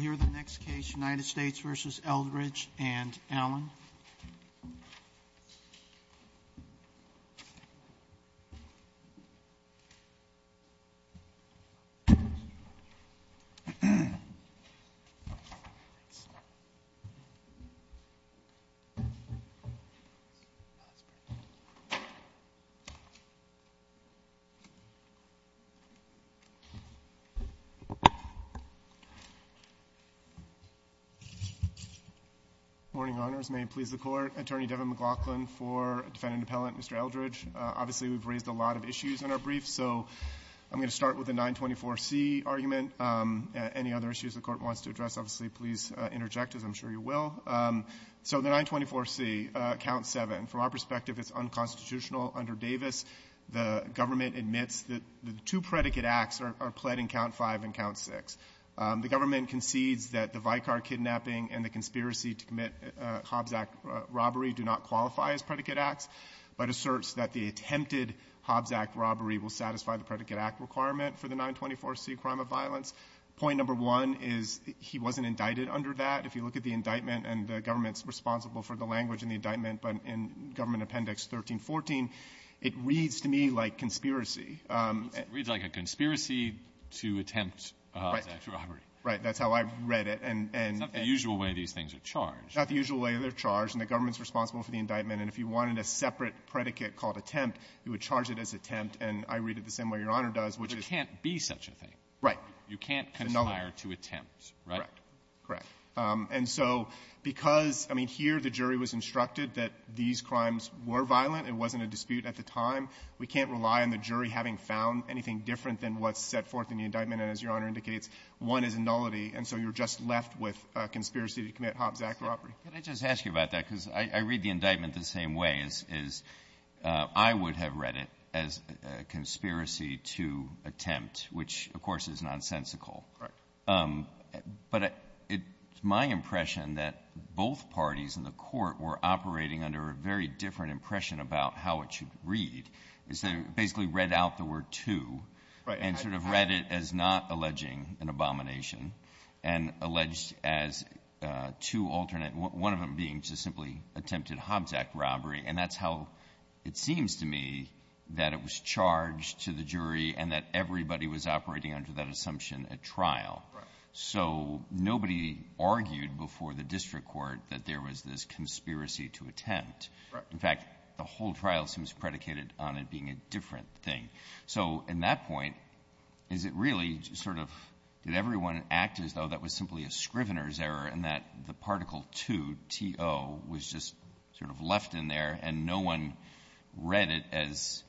Dr. Goldenberg, you will hear the next case, United States v. Eldridge and Allen. Good morning. Good morning. Good morning, Your Honors. May it please the Court. Attorney Devin McLaughlin for Defendant Appellant Mr. Eldridge. Obviously, we've raised a lot of issues in our brief, so I'm going to start with the 924C argument. Any other issues the Court wants to address, obviously, please interject as I'm sure you will. So the 924C, Count 7. From our perspective, it's unconstitutional under Davis. The government admits that the two predicate acts are pled in Count 5 and Count 6. The government concedes that the Vicar kidnapping and the conspiracy to commit Hobbs Act robbery do not qualify as predicate acts, but asserts that the attempted Hobbs Act robbery will satisfy the predicate act requirement for the 924C crime of violence. Point number one is he wasn't indicted under that. If you look at the indictment, and the government's responsible for the language in the indictment, but in Government Appendix 1314, it reads to me like conspiracy. It reads like a conspiracy to attempt Hobbs Act robbery. Right. That's how I read it. It's not the usual way these things are charged. Not the usual way they're charged. And the government's responsible for the indictment. And if you wanted a separate predicate called attempt, you would charge it as attempt. And I read it the same way Your Honor does, which is… But there can't be such a thing. Right. You can't conspire to attempt, right? Correct. And so because, I mean, here the jury was instructed that these crimes were violent. It wasn't a dispute at the time. We can't rely on the jury having found anything different than what's set forth in the indictment. And as Your Honor indicates, one is a nullity, and so you're just left with a conspiracy to commit Hobbs Act robbery. Can I just ask you about that? Because I read the indictment the same way, is I would have read it as a conspiracy to attempt, which, of course, is nonsensical. Right. But it's my impression that both parties in the Court were operating under a very different impression about how it should read, is they basically read out the word too. Right. And sort of read it as not alleging an abomination and alleged as too alternate, one of them being to simply attempted Hobbs Act robbery. And that's how it seems to me that it was charged to the jury and that everybody was operating under that assumption at trial. Right. So nobody argued before the district court that there was this conspiracy to attempt. Right. In fact, the whole trial seems predicated on it being a different thing. So in that point, is it really sort of did everyone act as though that was simply a Scrivener's error and that the Particle II, T.O., was just sort of left in there and no one read it as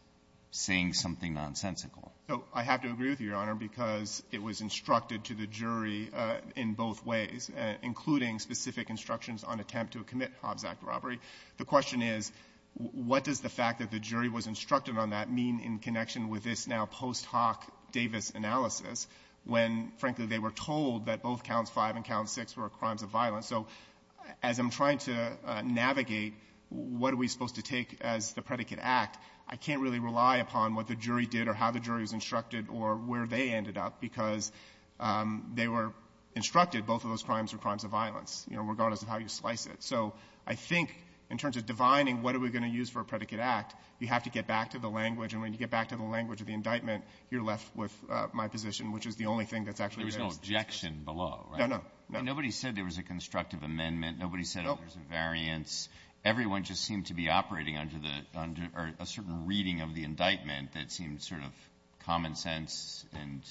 saying something nonsensical? So I have to agree with you, Your Honor, because it was instructed to the jury in both ways, including specific instructions on attempt to commit Hobbs Act robbery. The question is, what does the fact that the jury was instructed on that mean in connection with this now post hoc Davis analysis when, frankly, they were told that both counts 5 and count 6 were crimes of violence? So as I'm trying to navigate what are we supposed to take as the predicate act, I can't really rely upon what the jury did or how the jury was instructed or where they ended up, because they were instructed both of those crimes were crimes of violence, you know, regardless of how you slice it. So I think in terms of divining what are we going to use for a predicate act, you have to get back to the language. And when you get back to the language of the indictment, you're left with my position, which is the only thing that's actually there. There was no objection below, right? No, no. Nobody said there was a constructive amendment. Nobody said there was a variance. Everyone just seemed to be operating under the under a certain reading of the indictment that seemed sort of common sense and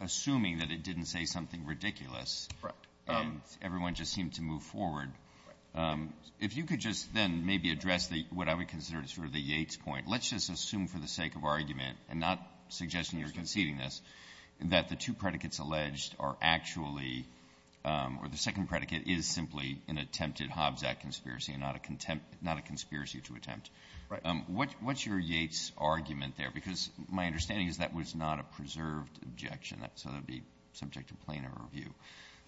assuming that it didn't say something ridiculous. And everyone just seemed to move forward. If you could just then maybe address what I would consider sort of the Yates point. Let's just assume for the sake of argument and not suggesting you're conceding this, that the two predicates alleged are actually or the second predicate is simply an attempted Hobbs Act conspiracy and not a conspiracy to attempt. Right. What's your Yates argument there? Because my understanding is that was not a preserved objection. So that would be subject to plainer review.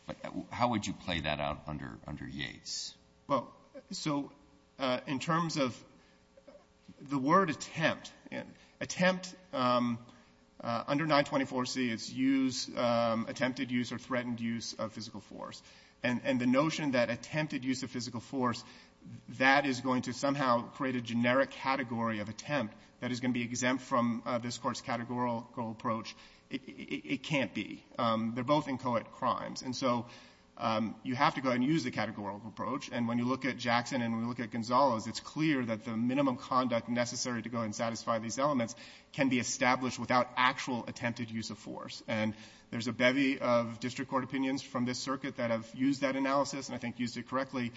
But how would you play that out under Yates? Well, so in terms of the word attempt, attempt under 924C is use, attempted use or threatened use of physical force. And the notion that attempted use of physical force, that is going to somehow create a generic category of attempt that is going to be exempt from this Court's categorical approach, it can't be. They're both inchoate crimes. And so you have to go ahead and use the categorical approach. And when you look at Jackson and when you look at Gonzalo's, it's clear that the minimum conduct necessary to go ahead and satisfy these elements can be established without actual attempted use of force. And there's a bevy of district court opinions from this circuit that have used that analysis and I think used it correctly.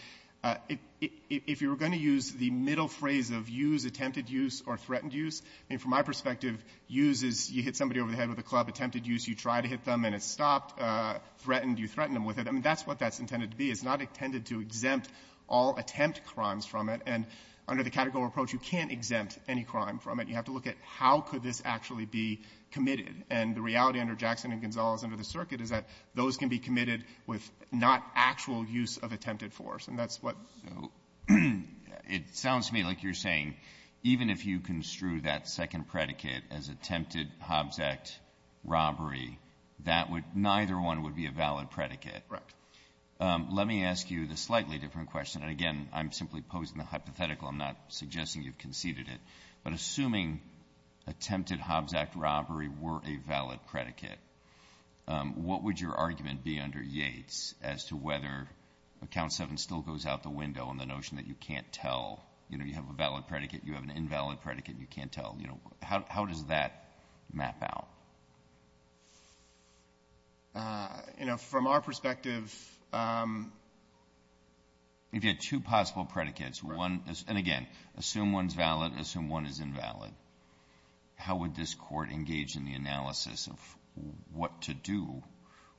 If you were going to use the middle phrase of use, attempted use or threatened use, I mean, from my perspective, use is you hit somebody over the head with a club. Attempted use, you try to hit them and it's stopped. Threatened, you threaten them with it. I mean, that's what that's intended to be. It's not intended to exempt all attempt crimes from it. And under the categorical approach, you can't exempt any crime from it. You have to look at how could this actually be committed. And the reality under Jackson and Gonzalo's under the circuit is that those can be committed with not actual use of attempted force. And that's what the rule. Breyer. It sounds to me like you're saying even if you construe that second predicate as attempted Hobbs Act robbery, that would ñ neither one would be a valid predicate. Correct. Let me ask you the slightly different question. And, again, I'm simply posing the hypothetical. I'm not suggesting you've conceded it. But assuming attempted Hobbs Act robbery were a valid predicate, what would your argument be under Yates as to whether Account 7 still goes out the window and the notion that you can't tell, you know, you have a valid predicate, you have an invalid predicate, and you can't tell? You know, how does that map out? You know, from our perspective ñ If you had two possible predicates, one ñ and, again, assume one's valid, assume one is invalid. How would this Court engage in the analysis of what to do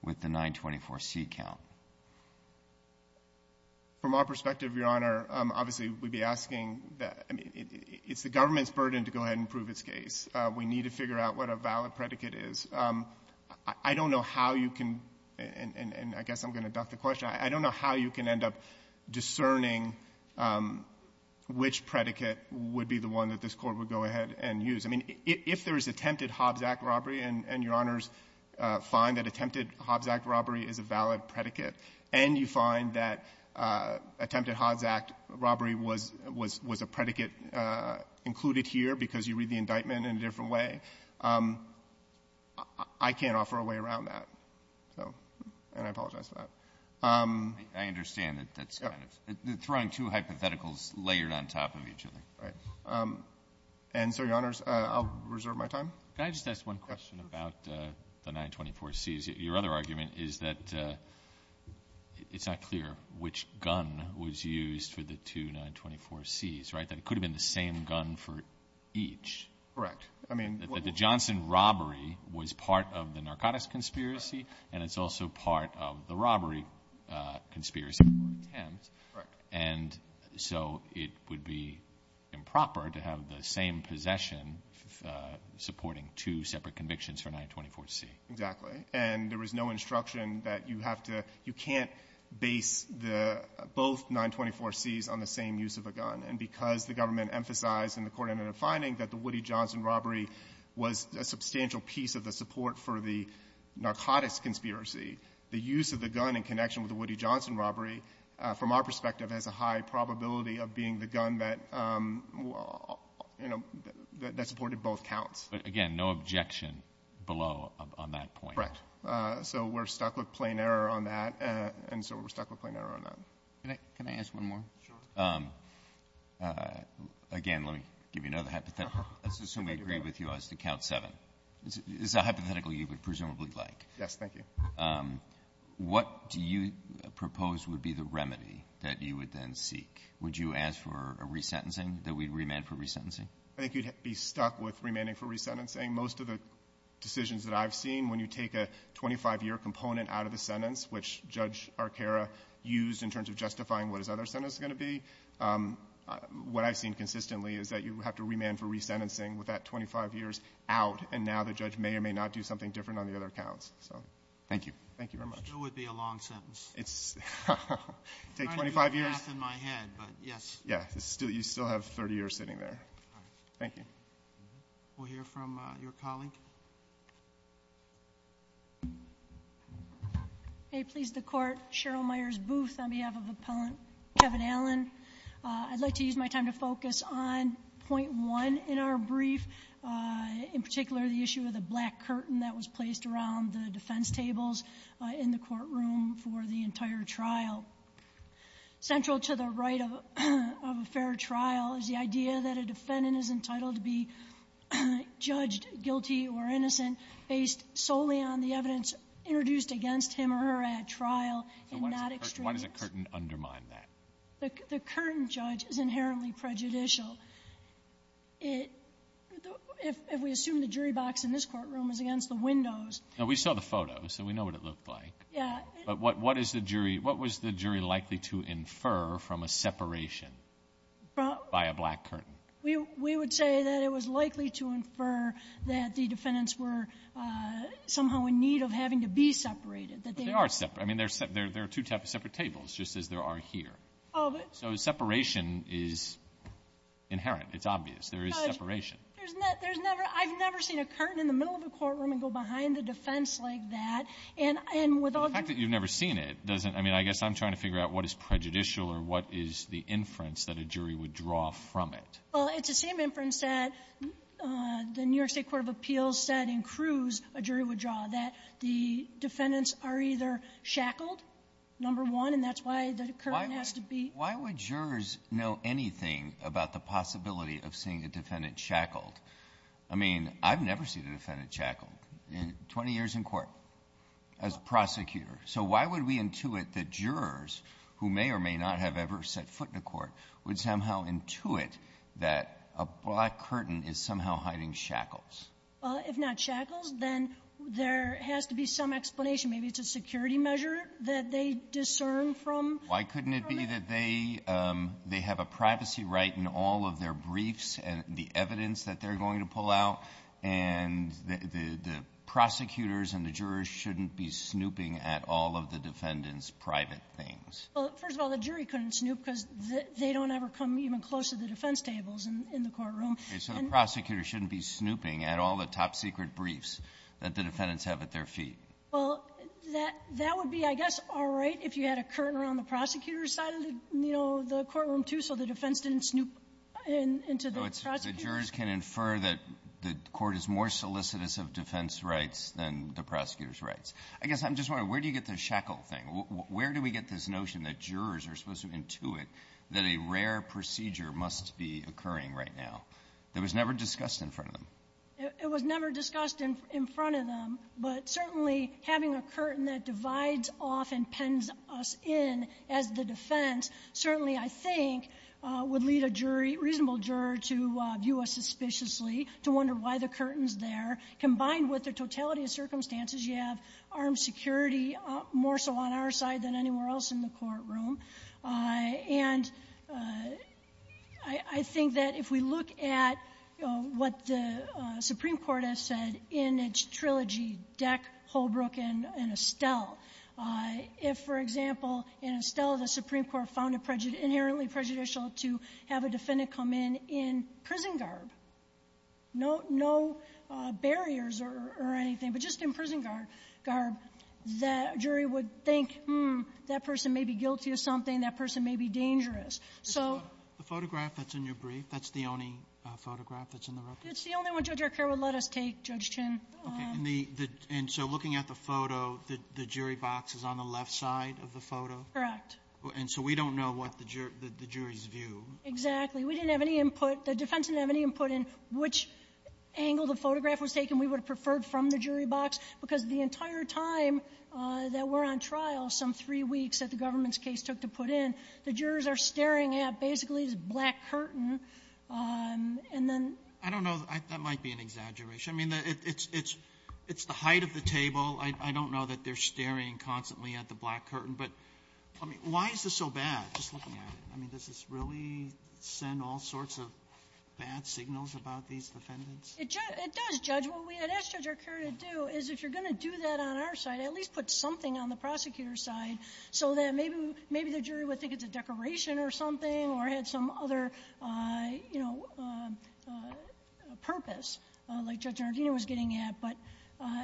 with the 924C count? From our perspective, Your Honor, obviously, we'd be asking that ñ I mean, it's the government's burden to go ahead and prove its case. We need to figure out what a valid predicate is. I don't know how you can ñ and I guess I'm going to duck the question. I don't know how you can end up discerning which predicate would be the one that this Court would go ahead and use. I mean, if there is attempted Hobbs Act robbery, and Your Honors find that attempted Hobbs Act robbery is a valid predicate, and you find that attempted Hobbs Act robbery was a predicate included here because you read the indictment in a different way, I can't offer a way around that. So, and I apologize for that. I understand that that's kind of ñ throwing two hypotheticals layered on top of each other. All right. And so, Your Honors, I'll reserve my time. Can I just ask one question about the 924Cs? Your other argument is that it's not clear which gun was used for the two 924Cs, right? That it could have been the same gun for each. Correct. I mean ñ That the Johnson robbery was part of the narcotics conspiracy, and it's also part of the robbery conspiracy or attempt. Correct. And so it would be improper to have the same possession supporting two separate convictions for a 924C. Exactly. And there is no instruction that you have to ñ you can't base the ñ both 924Cs on the same use of a gun. And because the government emphasized in the court ended up finding that the Woody Johnson robbery was a substantial piece of the support for the narcotics conspiracy, the use of the gun in connection with the Woody Johnson robbery, from our perspective, has a high probability of being the gun that, you know, that supported both counts. But, again, no objection below on that point. Correct. So we're stuck with plain error on that, and so we're stuck with plain error on that. Can I ask one more? Sure. Again, let me give you another hypothetical. Let's assume we agree with you as to Count 7. It's a hypothetical you would presumably like. Yes. Thank you. What do you propose would be the remedy that you would then seek? Would you ask for a resentencing, that we'd remand for resentencing? I think you'd be stuck with remanding for resentencing. Most of the decisions that I've seen, when you take a 25-year component out of the sentence, which Judge Arcaro used in terms of justifying what his other sentence is going to be, what I've seen consistently is that you have to remand for resentencing with that 25 years out, and now the judge may or may not do something different on the other counts. So thank you. Thank you very much. It still would be a long sentence. It's 25 years. I'm trying to do a math in my head, but yes. Yeah. You still have 30 years sitting there. All right. Thank you. We'll hear from your colleague. May it please the Court, Cheryl Myers Booth on behalf of Appellant Kevin Allen. I'd like to use my time to focus on Point 1 in our brief, in particular the issue of the black curtain that was placed around the defense tables in the courtroom for the entire trial. Central to the right of a fair trial is the idea that a defendant is entitled to be judged guilty or innocent based solely on the evidence introduced against him or her at trial in that experience. So why does the curtain undermine that? The curtain, Judge, is inherently prejudicial. If we assume the jury box in this courtroom is against the windows. We saw the photos, so we know what it looked like. Yeah. But what was the jury likely to infer from a separation by a black curtain? We would say that it was likely to infer that the defendants were somehow in need of having to be separated. But they are separate. I mean, there are two separate tables, just as there are here. So separation is inherent. It's obvious. There is separation. There's never – I've never seen a curtain in the middle of a courtroom and go behind the defense like that. And with all the – The fact that you've never seen it doesn't – I mean, I guess I'm trying to figure out what is prejudicial or what is the inference that a jury would draw from it. Well, it's the same inference that the New York State Court of Appeals said in Cruz a jury would draw, that the defendants are either shackled, number one, and that's why the curtain has to be – Why would jurors know anything about the possibility of seeing a defendant shackled? I mean, I've never seen a defendant shackled in 20 years in court as a prosecutor. So why would we intuit that jurors who may or may not have ever set foot in a court would somehow intuit that a black curtain is somehow hiding shackles? If not shackles, then there has to be some explanation. Maybe it's a security measure that they discern from. Why couldn't it be that they – they have a privacy right in all of their briefs and the evidence that they're going to pull out, and the prosecutors and the jurors shouldn't be snooping at all of the defendants' private things? Well, first of all, the jury couldn't snoop because they don't ever come even close to the defense tables in the courtroom. So the prosecutor shouldn't be snooping at all the top-secret briefs that the defendants have at their feet? Well, that – that would be, I guess, all right if you had a curtain around the prosecutor's side of the, you know, the courtroom, too, so the defense didn't snoop into the prosecutor. So the jurors can infer that the court is more solicitous of defense rights than the prosecutor's rights? I guess I'm just wondering, where do you get the shackle thing? Where do we get this notion that jurors are supposed to intuit that a rare procedure must be occurring right now that was never discussed in front of them? It was never discussed in front of them, but certainly having a curtain that divides off and pens us in as the defense certainly, I think, would lead a jury, a reasonable juror, to view us suspiciously, to wonder why the curtain's there. Combined with the totality of circumstances, you have armed security more so on our side than anywhere else in the courtroom. And I think that if we look at what the Supreme Court has said in its trilogy, Deck, Holbrook, and Estelle, if, for example, in Estelle, the Supreme Court found it inherently prejudicial to have a defendant come in in prison garb, no barriers or anything, but just in prison garb, that a jury would think, hmm, that person may be something, that person may be dangerous. So the photograph that's in your brief, that's the only photograph that's in the record? It's the only one Judge Arcaro would let us take, Judge Chin. Okay. And so looking at the photo, the jury box is on the left side of the photo? Correct. And so we don't know what the jury's view? Exactly. We didn't have any input. The defense didn't have any input in which angle the photograph was taken we would have preferred from the jury box, because the entire time that we're on trial, some of the three weeks that the government's case took to put in, the jurors are staring at basically this black curtain, and then ---- I don't know. That might be an exaggeration. I mean, it's the height of the table. I don't know that they're staring constantly at the black curtain. But, I mean, why is this so bad, just looking at it? I mean, does this really send all sorts of bad signals about these defendants? It does, Judge. What we had asked Judge Arcaro to do is, if you're going to do that on our side, at least put something on the prosecutor's side so that maybe the jury would think it's a decoration or something or had some other, you know, purpose like Judge Nardino was getting at. But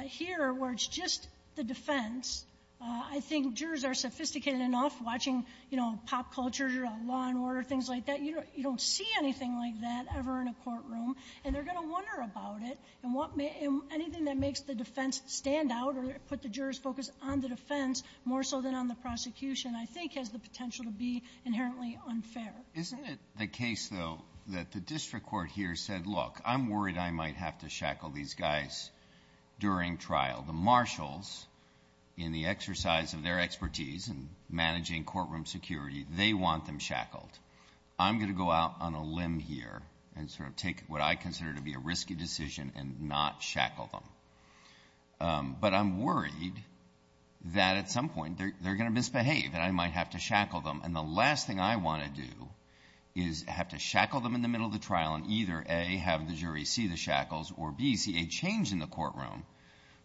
here, where it's just the defense, I think jurors are sophisticated enough watching, you know, pop culture, law and order, things like that. You don't see anything like that ever in a courtroom, and they're going to wonder about it. And what may ---- anything that makes the defense stand out or put the jurors' focus on the defense more so than on the prosecution, I think, has the potential to be inherently unfair. Isn't it the case, though, that the district court here said, look, I'm worried I might have to shackle these guys during trial? The marshals, in the exercise of their expertise in managing courtroom security, they want them shackled. I'm going to go out on a limb here and sort of take what I consider to be a risky decision and not shackle them. But I'm worried that at some point they're going to misbehave and I might have to shackle them. And the last thing I want to do is have to shackle them in the middle of the trial and either, A, have the jury see the shackles or, B, see a change in the courtroom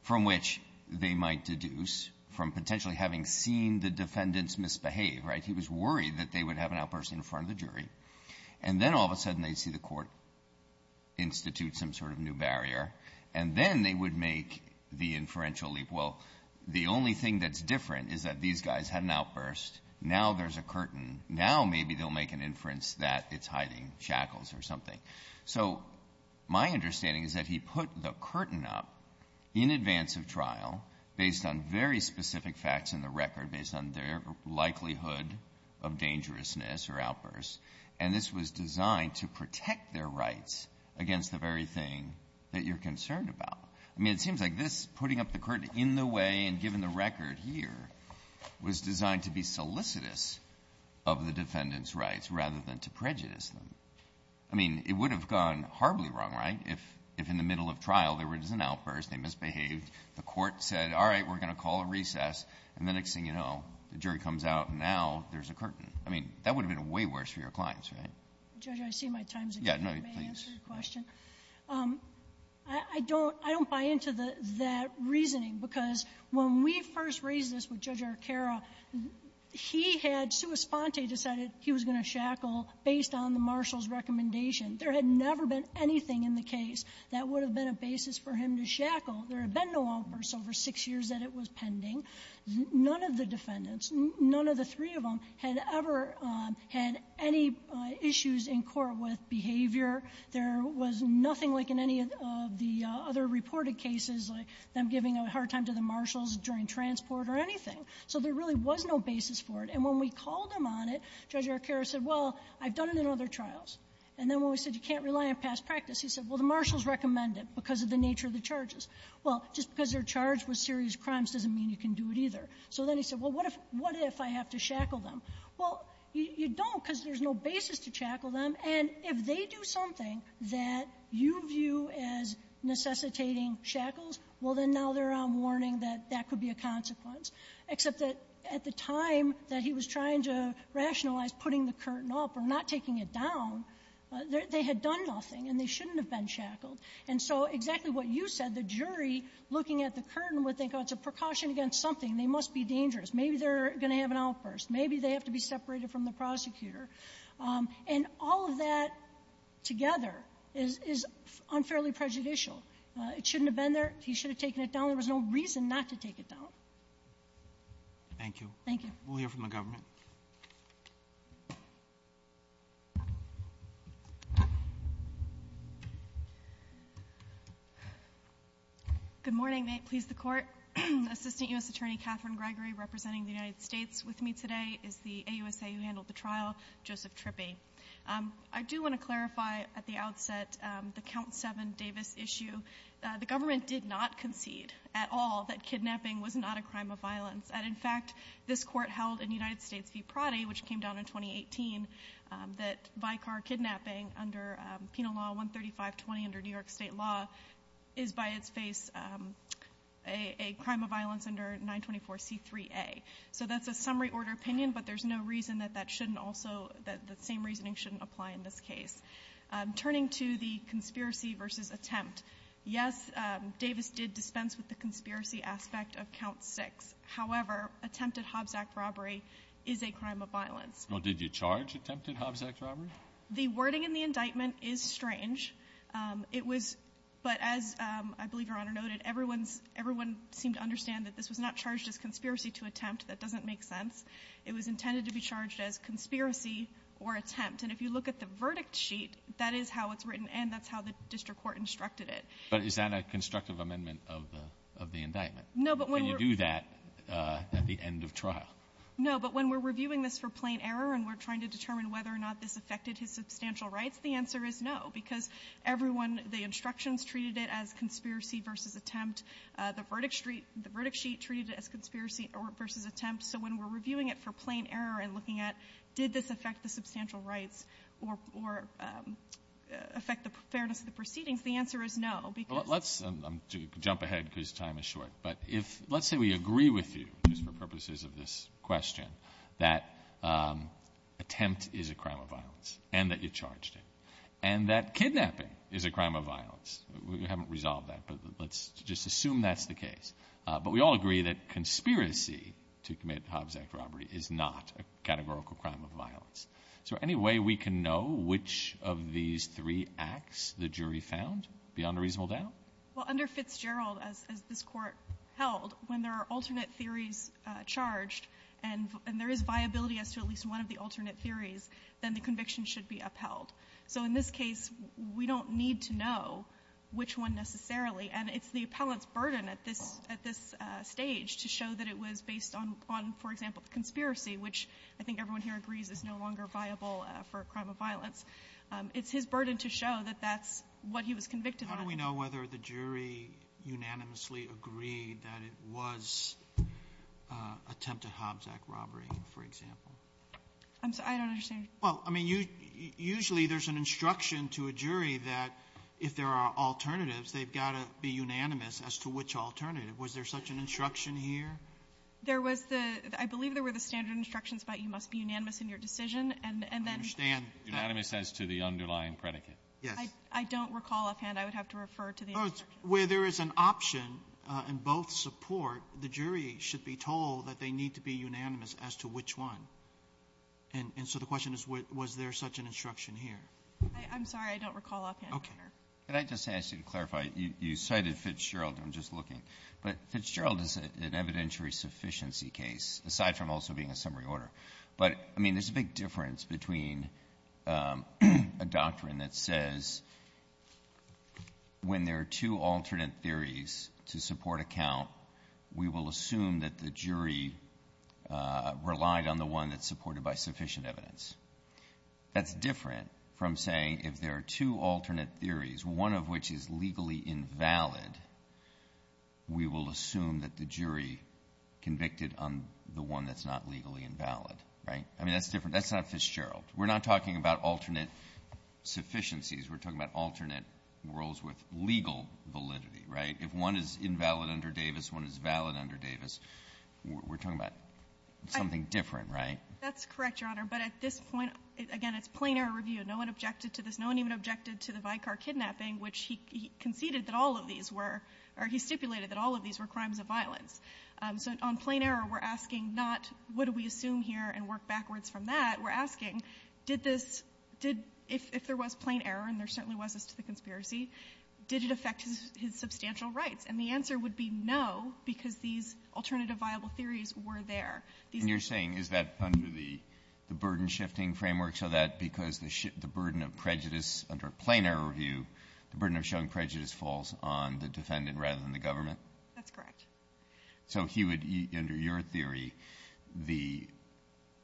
from which they might deduce from potentially having seen the defendants misbehave, right? In front of the jury. And then all of a sudden they see the court institute some sort of new barrier. And then they would make the inferential leap. Well, the only thing that's different is that these guys had an outburst. Now there's a curtain. Now maybe they'll make an inference that it's hiding shackles or something. So my understanding is that he put the curtain up in advance of trial based on very And this was designed to protect their rights against the very thing that you're concerned about. I mean, it seems like this putting up the curtain in the way and giving the record here was designed to be solicitous of the defendants' rights rather than to prejudice them. I mean, it would have gone horribly wrong, right, if in the middle of trial there was an outburst, they misbehaved, the court said, all right, we're going to call a recess, and the next thing you know the jury comes out and now there's a curtain. I mean, that would have been way worse for your clients, right? Judge, I see my time's up. Yeah, no, please. May I answer your question? I don't buy into that reasoning because when we first raised this with Judge Arcaro, he had, Sua Sponte decided he was going to shackle based on the marshal's recommendation. There had never been anything in the case that would have been a basis for him to shackle. There had been no outbursts over six years that it was pending. None of the defendants, none of the three of them, had ever had any issues in court with behavior. There was nothing like in any of the other reported cases, like them giving a hard time to the marshals during transport or anything. So there really was no basis for it. And when we called him on it, Judge Arcaro said, well, I've done it in other trials. And then when we said you can't rely on past practice, he said, well, the marshals recommend it because of the nature of the charges. Well, just because they're charged with serious crimes doesn't mean you can do it either. So then he said, well, what if I have to shackle them? Well, you don't because there's no basis to shackle them. And if they do something that you view as necessitating shackles, well, then now they're on warning that that could be a consequence, except that at the time that he was trying to rationalize putting the curtain up or not taking it down, they had done nothing and they shouldn't have been shackled. And so exactly what you said, the jury looking at the curtain would think, oh, it's a precaution against something. They must be dangerous. Maybe they're going to have an outburst. Maybe they have to be separated from the prosecutor. And all of that together is unfairly prejudicial. It shouldn't have been there. He should have taken it down. There was no reason not to take it down. Thank you. Thank you. We'll hear from the government. Good morning. May it please the Court. Assistant U.S. Attorney Catherine Gregory representing the United States with me today is the AUSA who handled the trial, Joseph Trippi. I do want to clarify at the outset the Count 7 Davis issue. The government did not concede at all that kidnapping was not a crime of violence. And in fact, this Court held in United States v. Proddy, which came down in 2018, that state law is by its face a crime of violence under 924C3A. So that's a summary order opinion, but there's no reason that that shouldn't also, that the same reasoning shouldn't apply in this case. Turning to the conspiracy versus attempt, yes, Davis did dispense with the conspiracy aspect of Count 6. However, attempted Hobbs Act robbery is a crime of violence. Well, did you charge attempted Hobbs Act robbery? The wording in the indictment is strange. It was, but as I believe Your Honor noted, everyone seemed to understand that this was not charged as conspiracy to attempt. That doesn't make sense. It was intended to be charged as conspiracy or attempt. And if you look at the verdict sheet, that is how it's written and that's how the district court instructed it. But is that a constructive amendment of the indictment? No, but when you do that at the end of trial? No, but when we're reviewing this for plain error and we're trying to determine whether or not this affected his substantial rights, the answer is no. Because everyone, the instructions treated it as conspiracy versus attempt. The verdict sheet treated it as conspiracy versus attempt. So when we're reviewing it for plain error and looking at did this affect the substantial rights or affect the fairness of the proceedings, the answer is no. Because the verdict sheet treated it as conspiracy versus attempt. Well, let's jump ahead because time is short. But if, let's say we agree with you, just for purposes of this question, that attempt is a crime of violence and that you charged it. And that kidnapping is a crime of violence. We haven't resolved that, but let's just assume that's the case. But we all agree that conspiracy to commit Hobbs Act robbery is not a categorical crime of violence. So any way we can know which of these three acts the jury found beyond a reasonable doubt? Well, under Fitzgerald, as this Court held, when there are alternate theories charged and there is viability as to at least one of the alternate theories, then the conviction should be upheld. So in this case, we don't need to know which one necessarily. And it's the appellant's burden at this stage to show that it was based on, for example, the conspiracy, which I think everyone here agrees is no longer viable for a crime of violence. It's his burden to show that that's what he was convicted on. How do we know whether the jury unanimously agreed that it was attempted Hobbs Act robbery, for example? I'm sorry. I don't understand. Well, I mean, usually there's an instruction to a jury that if there are alternatives, they've got to be unanimous as to which alternative. Was there such an instruction here? There was the — I believe there were the standard instructions about you must be unanimous in your decision, and then — I understand. Unanimous as to the underlying predicate. Yes. I don't recall offhand. I would have to refer to the instruction. Where there is an option in both support, the jury should be told that they need to be unanimous as to which one. And so the question is, was there such an instruction here? I'm sorry. I don't recall offhand. Okay. Could I just ask you to clarify? You cited Fitzgerald. I'm just looking. But Fitzgerald is an evidentiary sufficiency case, aside from also being a summary order. But, I mean, there's a big difference between a doctrine that says when there are two different theories, one of which is legally invalid, we will assume that the jury convicted on the one that's not legally invalid, right? I mean, that's different. That's not Fitzgerald. We're not talking about alternate sufficiencies. We're talking about alternate roles with legal validity, right? If one is invalid under Davis, one is valid under Davis. We're talking about something different, right? That's correct, Your Honor. But at this point, again, it's plain error review. No one objected to this. No one even objected to the Vicar kidnapping, which he conceded that all of these were, or he stipulated that all of these were crimes of violence. So on plain error, we're asking not what do we assume here and work backwards from that. We're asking, did this, did, if there was plain error, and there certainly was as to the conspiracy, did it affect his substantial rights? And the answer would be no, because these alternative viable theories were there. And you're saying, is that under the burden shifting framework, so that because the burden of prejudice under plain error review, the burden of showing prejudice falls on the defendant rather than the government? That's correct. So he would, under your theory, the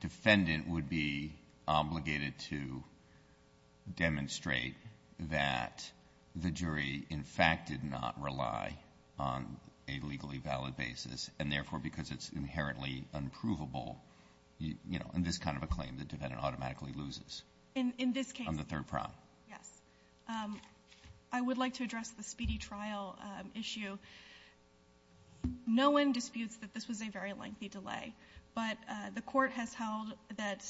defendant would be obligated to demonstrate that the jury, in fact, did not rely on a legally valid basis, and therefore, because it's inherently unprovable, you know, in this kind of a claim, the defendant automatically loses. In this case. On the third prong. Yes. I would like to address the speedy trial issue. No one disputes that this was a very lengthy delay, but the Court has held that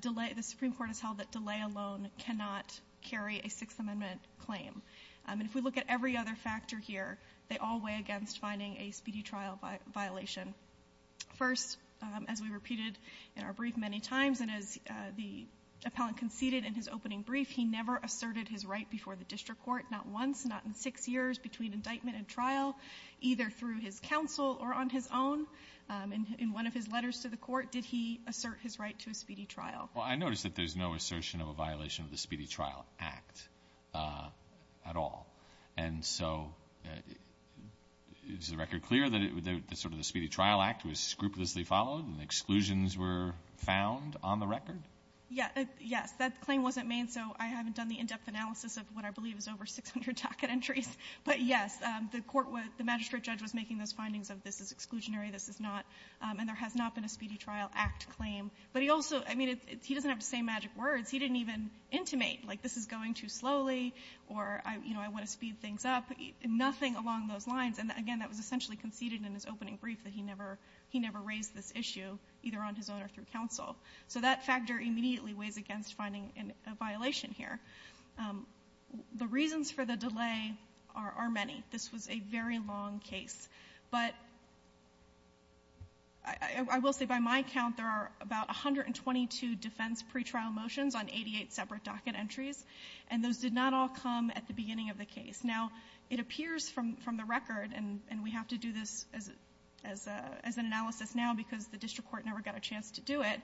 delay, the Supreme Court has held that delay alone cannot carry a Sixth Amendment claim. And if we look at every other factor here, they all weigh against finding a speedy trial violation. First, as we repeated in our brief many times, and as the appellant conceded in his opening brief, he never asserted his right before the district court, not once, not in six years, between indictment and trial, either through his counsel or on his own. In one of his letters to the Court, did he assert his right to a speedy trial? Well, I noticed that there's no assertion of a violation of the Speedy Trial Act at all. And so, is the record clear that sort of the Speedy Trial Act was scrupulously followed and exclusions were found on the record? Yes. That claim wasn't made, so I haven't done the in-depth analysis of what I believe is over 600 docket entries. But yes, the court was, the magistrate judge was making those findings of this is not, and there has not been a Speedy Trial Act claim. But he also, I mean, he doesn't have to say magic words. He didn't even intimate, like, this is going too slowly, or, you know, I want to speed things up. Nothing along those lines. And again, that was essentially conceded in his opening brief that he never raised this issue, either on his own or through counsel. So that factor immediately weighs against finding a violation here. The reasons for the delay are many. This was a very long case. But I will say by my count, there are about 122 defense pretrial motions on 88 separate docket entries, and those did not all come at the beginning of the case. Now, it appears from the record, and we have to do this as an analysis now because the district court never got a chance to do it,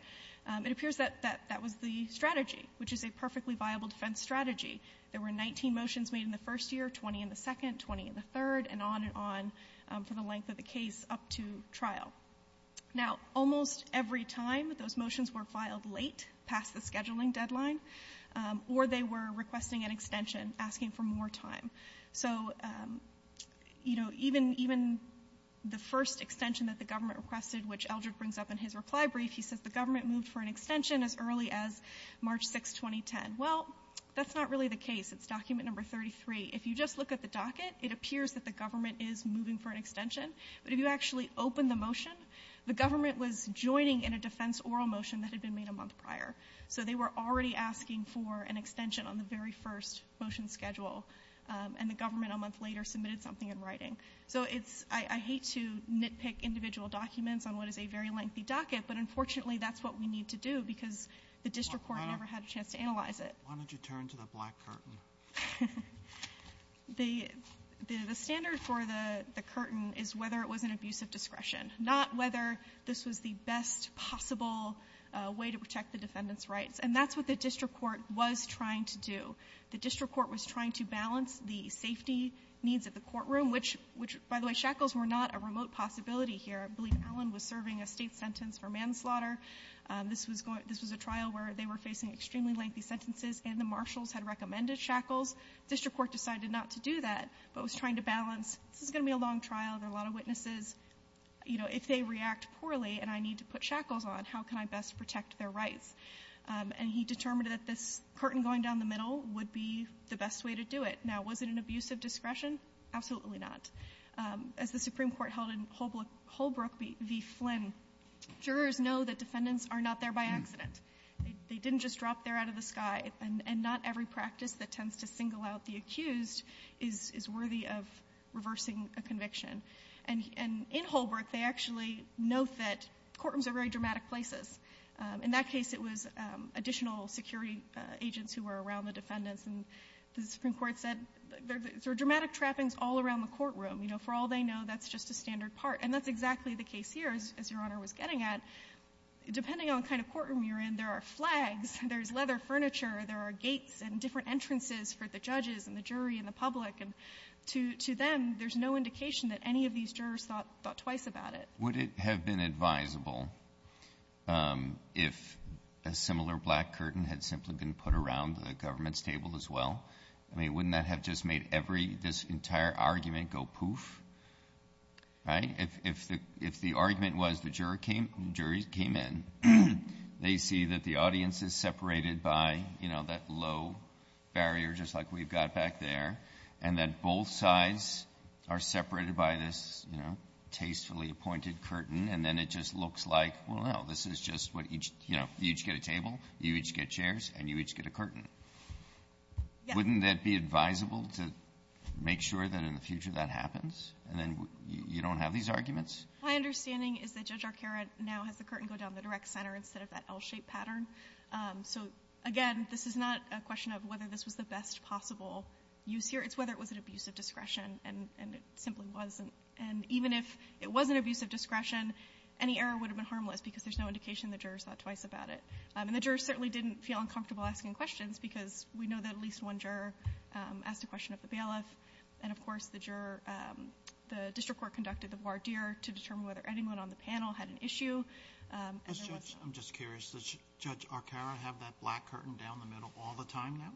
it appears that that was the strategy, which is a perfectly viable defense strategy. There were 19 motions made in the first year, 20 in the second, 20 in the third, and on and on for the length of the case up to trial. Now, almost every time those motions were filed late, past the scheduling deadline, or they were requesting an extension, asking for more time. So, you know, even the first extension that the government requested, which Eldred brings up in his reply brief, he says the government moved for an extension as early as March 6, 2010. Well, that's not really the case. It's document number 33. If you just look at the docket, it appears that the government is moving for an extension, but if you actually open the motion, the government was joining in a defense oral motion that had been made a month prior. So they were already asking for an extension on the very first motion schedule, and the government a month later submitted something in writing. So it's – I hate to nitpick individual documents on what is a very lengthy docket, but unfortunately that's what we need to do because the district court never had a chance to analyze it. Why don't you turn to the black curtain? The standard for the curtain is whether it was an abuse of discretion, not whether this was the best possible way to protect the defendant's rights, and that's what the district court was trying to do. The district court was trying to balance the safety needs of the courtroom, which, by the way, shackles were not a remote possibility here. I believe Allen was serving a state sentence for manslaughter. This was a trial where they were facing extremely lengthy sentences, and the marshals had recommended shackles. The district court decided not to do that, but was trying to balance, this is going to be a long trial. There are a lot of witnesses. You know, if they react poorly and I need to put shackles on, how can I best protect their rights? And he determined that this curtain going down the middle would be the best way to do it. Now, was it an abuse of discretion? Absolutely not. As the Supreme Court held in Holbrook v. Flynn, jurors know that defendants are not there by accident. They didn't just drop there out of the sky, and not every practice that tends to single out the accused is worthy of reversing a conviction. And in Holbrook, they actually note that courtrooms are very dramatic places. In that case, it was additional security agents who were around the defendants, and the Supreme Court noted that. And that's exactly the case here, as Your Honor was getting at. Depending on the kind of courtroom you're in, there are flags, there's leather furniture, there are gates and different entrances for the judges and the jury and the public. And to them, there's no indication that any of these jurors thought twice about it. Would it have been advisable if a similar black curtain had simply been put around the government's table as well? I mean, wouldn't that have just made every — this entire argument go poof, right? If the argument was the jury came in, they see that the audience is separated by, you know, that low barrier, just like we've got back there, and that both sides are separated by this, you know, tastefully appointed curtain, and then it just looks like, well, no, this is just what each — you know, you each get a table, you each get chairs, and you each get a curtain. Yeah. Wouldn't that be advisable to make sure that in the future that happens, and then you don't have these arguments? My understanding is that Judge Arcaro now has the curtain go down the direct center instead of that L-shaped pattern. So, again, this is not a question of whether this was the best possible use here. It's whether it was an abuse of discretion, and it simply wasn't. And even if it was an abuse of discretion, any error would have been harmless because there's no indication the jurors thought twice about it. And the jurors certainly didn't feel uncomfortable asking questions because we know that at least one juror asked a question of the bailiff, and, of course, the juror — the district court conducted the voir dire to determine whether anyone on the panel had an issue. And there was — I'm just curious. Does Judge Arcaro have that black curtain down the middle all the time now?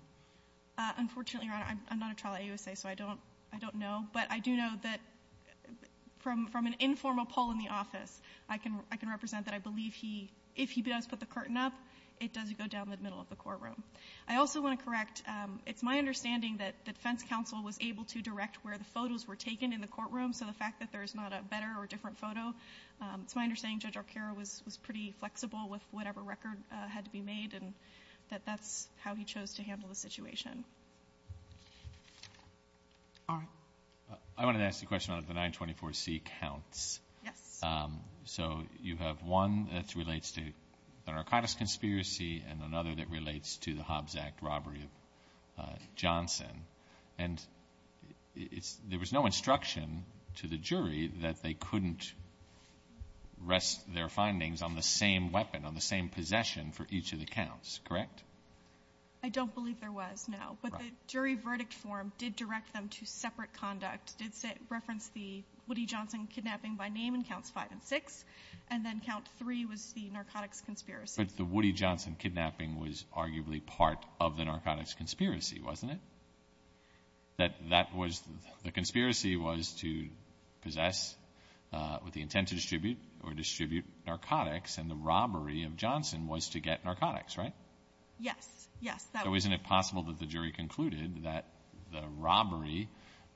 Unfortunately, Your Honor, I'm not a trial at USA, so I don't know. But I do know that from an informal poll in the office, I can represent that I believe that if he does put the curtain up, it does go down the middle of the courtroom. I also want to correct — it's my understanding that the defense counsel was able to direct where the photos were taken in the courtroom, so the fact that there's not a better or different photo, it's my understanding Judge Arcaro was pretty flexible with whatever record had to be made, and that that's how he chose to handle the situation. All right. I wanted to ask a question on the 924C counts. Yes. So you have one that relates to the narcotics conspiracy and another that relates to the Hobbs Act robbery of Johnson. And there was no instruction to the jury that they couldn't rest their findings on the same weapon, on the same possession for each of the counts, correct? I don't believe there was, no. But the jury verdict form did direct them to separate conduct, did reference the Woody Johnson counts 5 and 6, and then count 3 was the narcotics conspiracy. But the Woody Johnson kidnapping was arguably part of the narcotics conspiracy, wasn't it? That that was — the conspiracy was to possess with the intent to distribute or distribute narcotics, and the robbery of Johnson was to get narcotics, right? Yes. Yes. So isn't it possible that the jury concluded that the robbery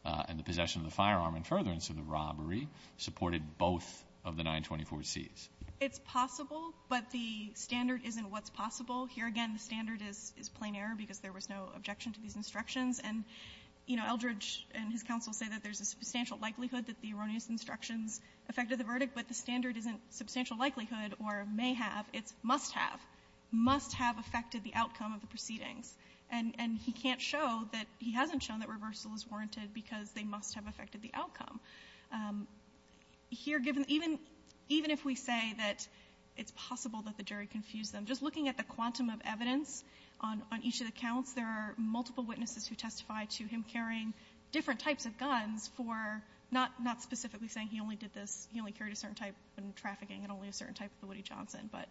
and the possession of the both of the 924Cs? It's possible, but the standard isn't what's possible. Here, again, the standard is plain error because there was no objection to these instructions. And, you know, Eldridge and his counsel say that there's a substantial likelihood that the erroneous instructions affected the verdict, but the standard isn't substantial likelihood or may have. It's must have. Must have affected the outcome of the proceedings. And he can't show that — he hasn't shown that reversal is warranted because they must have affected the outcome. Here, given — even if we say that it's possible that the jury confused them, just looking at the quantum of evidence on each of the counts, there are multiple witnesses who testify to him carrying different types of guns for — not specifically saying he only did this — he only carried a certain type in trafficking and only a certain type of the Woody Johnson, but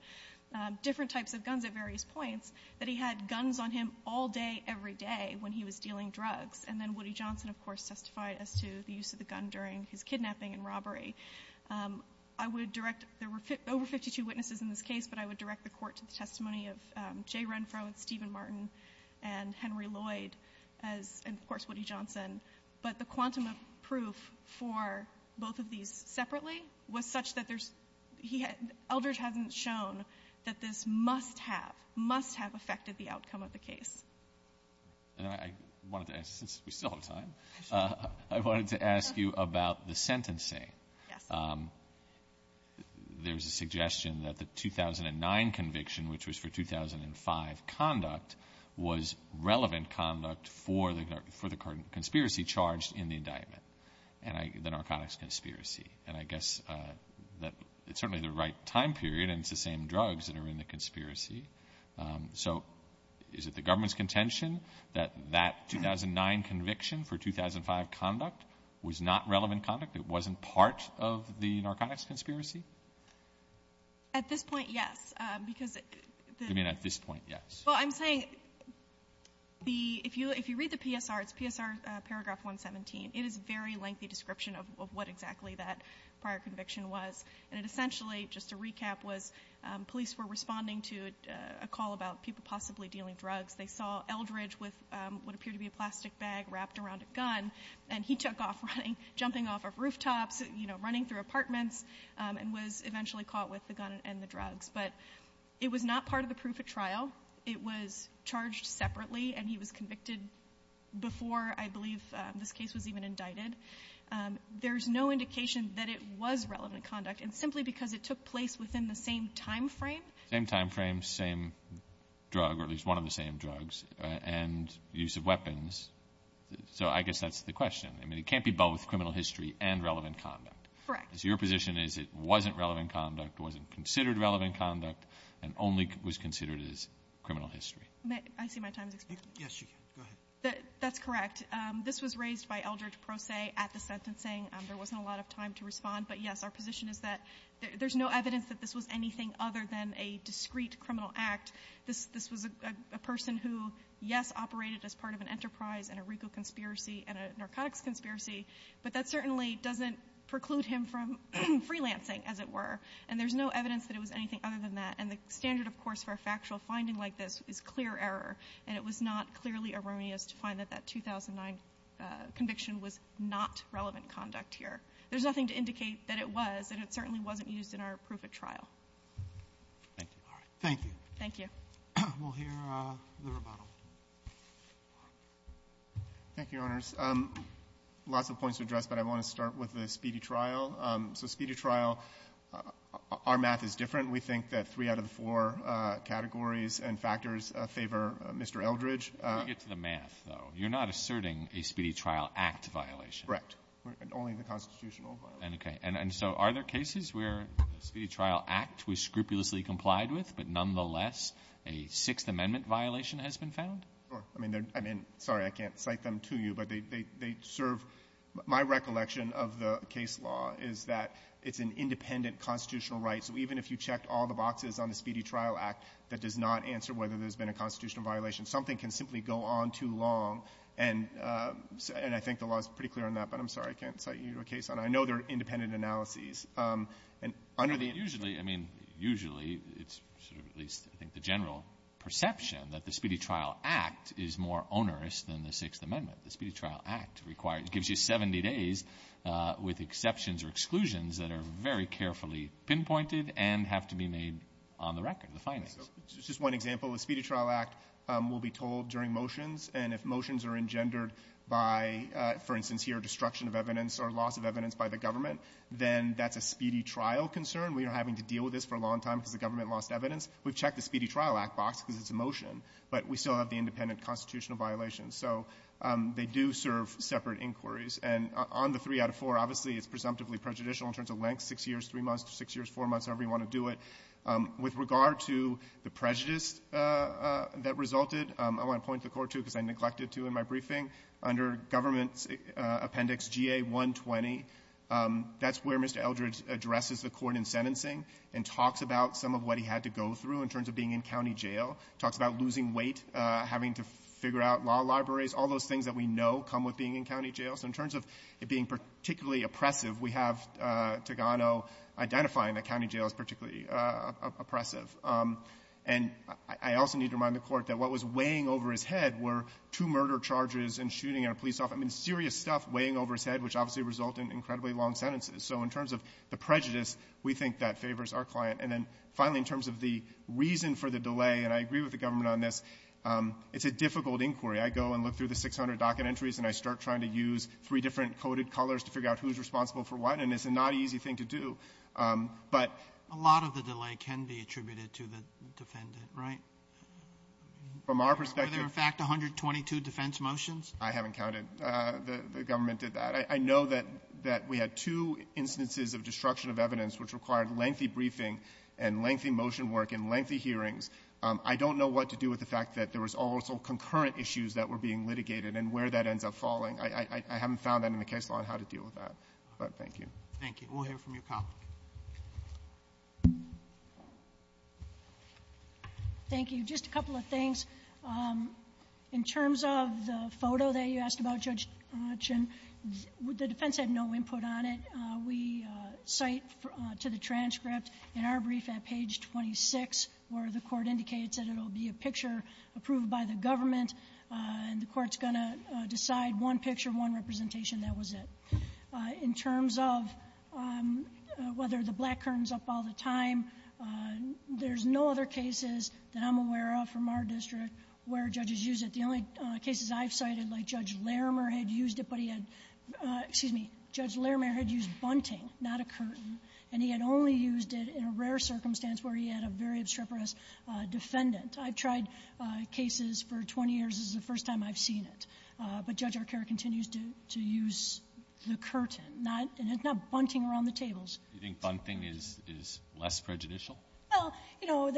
different types of guns at various points — that he had guns on him all day, every day when he was dealing drugs. And then Woody Johnson, of course, testified as to the use of the gun during his kidnapping and robbery. I would direct — there were over 52 witnesses in this case, but I would direct the Court to the testimony of Jay Renfro and Stephen Martin and Henry Lloyd as — and, of course, Woody Johnson. But the quantum of proof for both of these separately was such that there's — Eldridge hasn't shown that this must have, must have affected the outcome of the case. And I wanted to ask — since we still have time — I wanted to ask you about the sentencing. Yes. There's a suggestion that the 2009 conviction, which was for 2005 conduct, was relevant conduct for the conspiracy charged in the indictment, the narcotics conspiracy. And I guess that it's certainly the right time period and it's the same drugs that are in the conspiracy. So is it the government's contention that that 2009 conviction for 2005 conduct was not relevant conduct? It wasn't part of the narcotics conspiracy? At this point, yes, because — You mean at this point, yes. Well, I'm saying the — if you read the PSR, it's PSR paragraph 117. It is a very lengthy description of what exactly that prior conviction was. And it essentially, just to recap, was police were responding to a call about people possibly dealing drugs. They saw Eldridge with what appeared to be a plastic bag wrapped around a gun, and he took off running, jumping off of rooftops, you know, running through apartments, and was eventually caught with the gun and the drugs. But it was not part of the proof at trial. It was charged separately, and he was convicted before, I believe, this case was even indicted. There's no indication that it was relevant conduct. And simply because it took place within the same timeframe — Same timeframe, same drug, or at least one of the same drugs, and use of weapons. So I guess that's the question. I mean, it can't be both criminal history and relevant conduct. Correct. So your position is it wasn't relevant conduct, wasn't considered relevant conduct, and only was considered as criminal history. I see my time is expiring. Yes, you can. Go ahead. That's correct. This was raised by Eldridge Pro Se at the sentencing. There wasn't a lot of time to respond. But, yes, our position is that there's no evidence that this was anything other than a discreet criminal act. This was a person who, yes, operated as part of an enterprise and a legal conspiracy and a narcotics conspiracy, but that certainly doesn't preclude him from freelancing, as it were. And there's no evidence that it was anything other than that. And the standard, of course, for a factual finding like this is clear error, and it was not clearly erroneous to find that that 2009 conviction was not relevant conduct here. There's nothing to indicate that it was, and it certainly wasn't used in our proof of trial. Thank you. All right. Thank you. Thank you. We'll hear the rebuttal. Thank you, Your Honors. Lots of points to address, but I want to start with the speedy trial. So speedy trial, our math is different. We think that three out of the four categories and factors favor Mr. Eldridge. Let me get to the math, though. You're not asserting a speedy trial act violation? Correct. Only the constitutional violation. Okay. And so are there cases where a speedy trial act was scrupulously complied with, but nonetheless a Sixth Amendment violation has been found? Sure. I mean, sorry, I can't cite them to you, but they serve my recollection of the case law is that it's an independent constitutional right. So even if you checked all the boxes on the speedy trial act that does not answer whether there's been a constitutional violation, something can simply go on too long. And I think the law is pretty clear on that, but I'm sorry, I can't cite you to a case. And I know there are independent analyses. Usually, I mean, usually it's sort of at least I think the general perception that the speedy trial act is more onerous than the Sixth Amendment. The speedy trial act gives you 70 days with exceptions or exclusions that are very limited and have to be made on the record, the findings. Just one example. The speedy trial act will be told during motions, and if motions are engendered by, for instance here, destruction of evidence or loss of evidence by the government, then that's a speedy trial concern. We are having to deal with this for a long time because the government lost evidence. We've checked the speedy trial act box because it's a motion, but we still have the independent constitutional violations. So they do serve separate inquiries. And on the three out of four, obviously it's presumptively prejudicial in terms of length, six years, three months, six years, four months, however you want to do it. With regard to the prejudice that resulted, I want to point to the court, too, because I neglected to in my briefing. Under government appendix GA120, that's where Mr. Eldridge addresses the court in sentencing and talks about some of what he had to go through in terms of being in county jail, talks about losing weight, having to figure out law libraries. All those things that we know come with being in county jail. So in terms of it being particularly oppressive, we have Togano identifying that county jail is particularly oppressive. And I also need to remind the Court that what was weighing over his head were two murder charges and shooting our police off. I mean, serious stuff weighing over his head, which obviously resulted in incredibly long sentences. So in terms of the prejudice, we think that favors our client. And then finally, in terms of the reason for the delay, and I agree with the government on this, it's a difficult inquiry. I go and look through the 600 docket entries and I start trying to use three different coded colors to figure out who's responsible for what, and it's a not easy thing to do, but ---- Roberts. A lot of the delay can be attributed to the defendant, right? From our perspective ---- Were there, in fact, 122 defense motions? I haven't counted. The government did that. I know that we had two instances of destruction of evidence which required lengthy briefing and lengthy motion work and lengthy hearings. I don't know what to do with the fact that there was also concurrent issues that were being litigated and where that ends up falling. I haven't found that in the case law and how to deal with that. But thank you. Thank you. We'll hear from your colleague. Thank you. Just a couple of things. In terms of the photo that you asked about, Judge Chin, the defense had no input on it. We cite to the transcript in our brief at page 26 where the Court indicates that it will be a picture approved by the government, and the Court's going to decide one picture, one representation. That was it. In terms of whether the black curtain's up all the time, there's no other cases that I'm aware of from our district where judges use it. The only cases I've cited, like Judge Larimer had used it, but he had ---- excuse me, Judge Larimer had used bunting, not a curtain, and he had only used it in a rare circumstance where he had a very obstreperous defendant. I've tried cases for 20 years. This is the first time I've seen it. But Judge Arcaro continues to use the curtain, not ---- and it's not bunting around the tables. Do you think bunting is less prejudicial? Well, you know,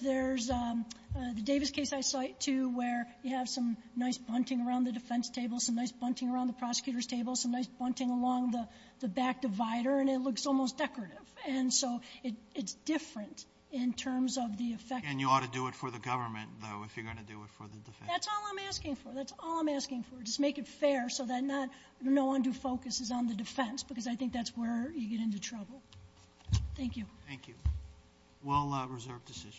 there's the Davis case I cite to where you have some nice bunting around the defense table, some nice bunting around the prosecutor's table, some nice bunting along the back divider, and it looks almost decorative. And so it's different in terms of the effect. And you ought to do it for the government, though, if you're going to do it for the defense. That's all I'm asking for. That's all I'm asking for. Just make it fair so that not no undue focus is on the defense, because I think that's where you get into trouble. Thank you. Thank you. Well-reserved decision.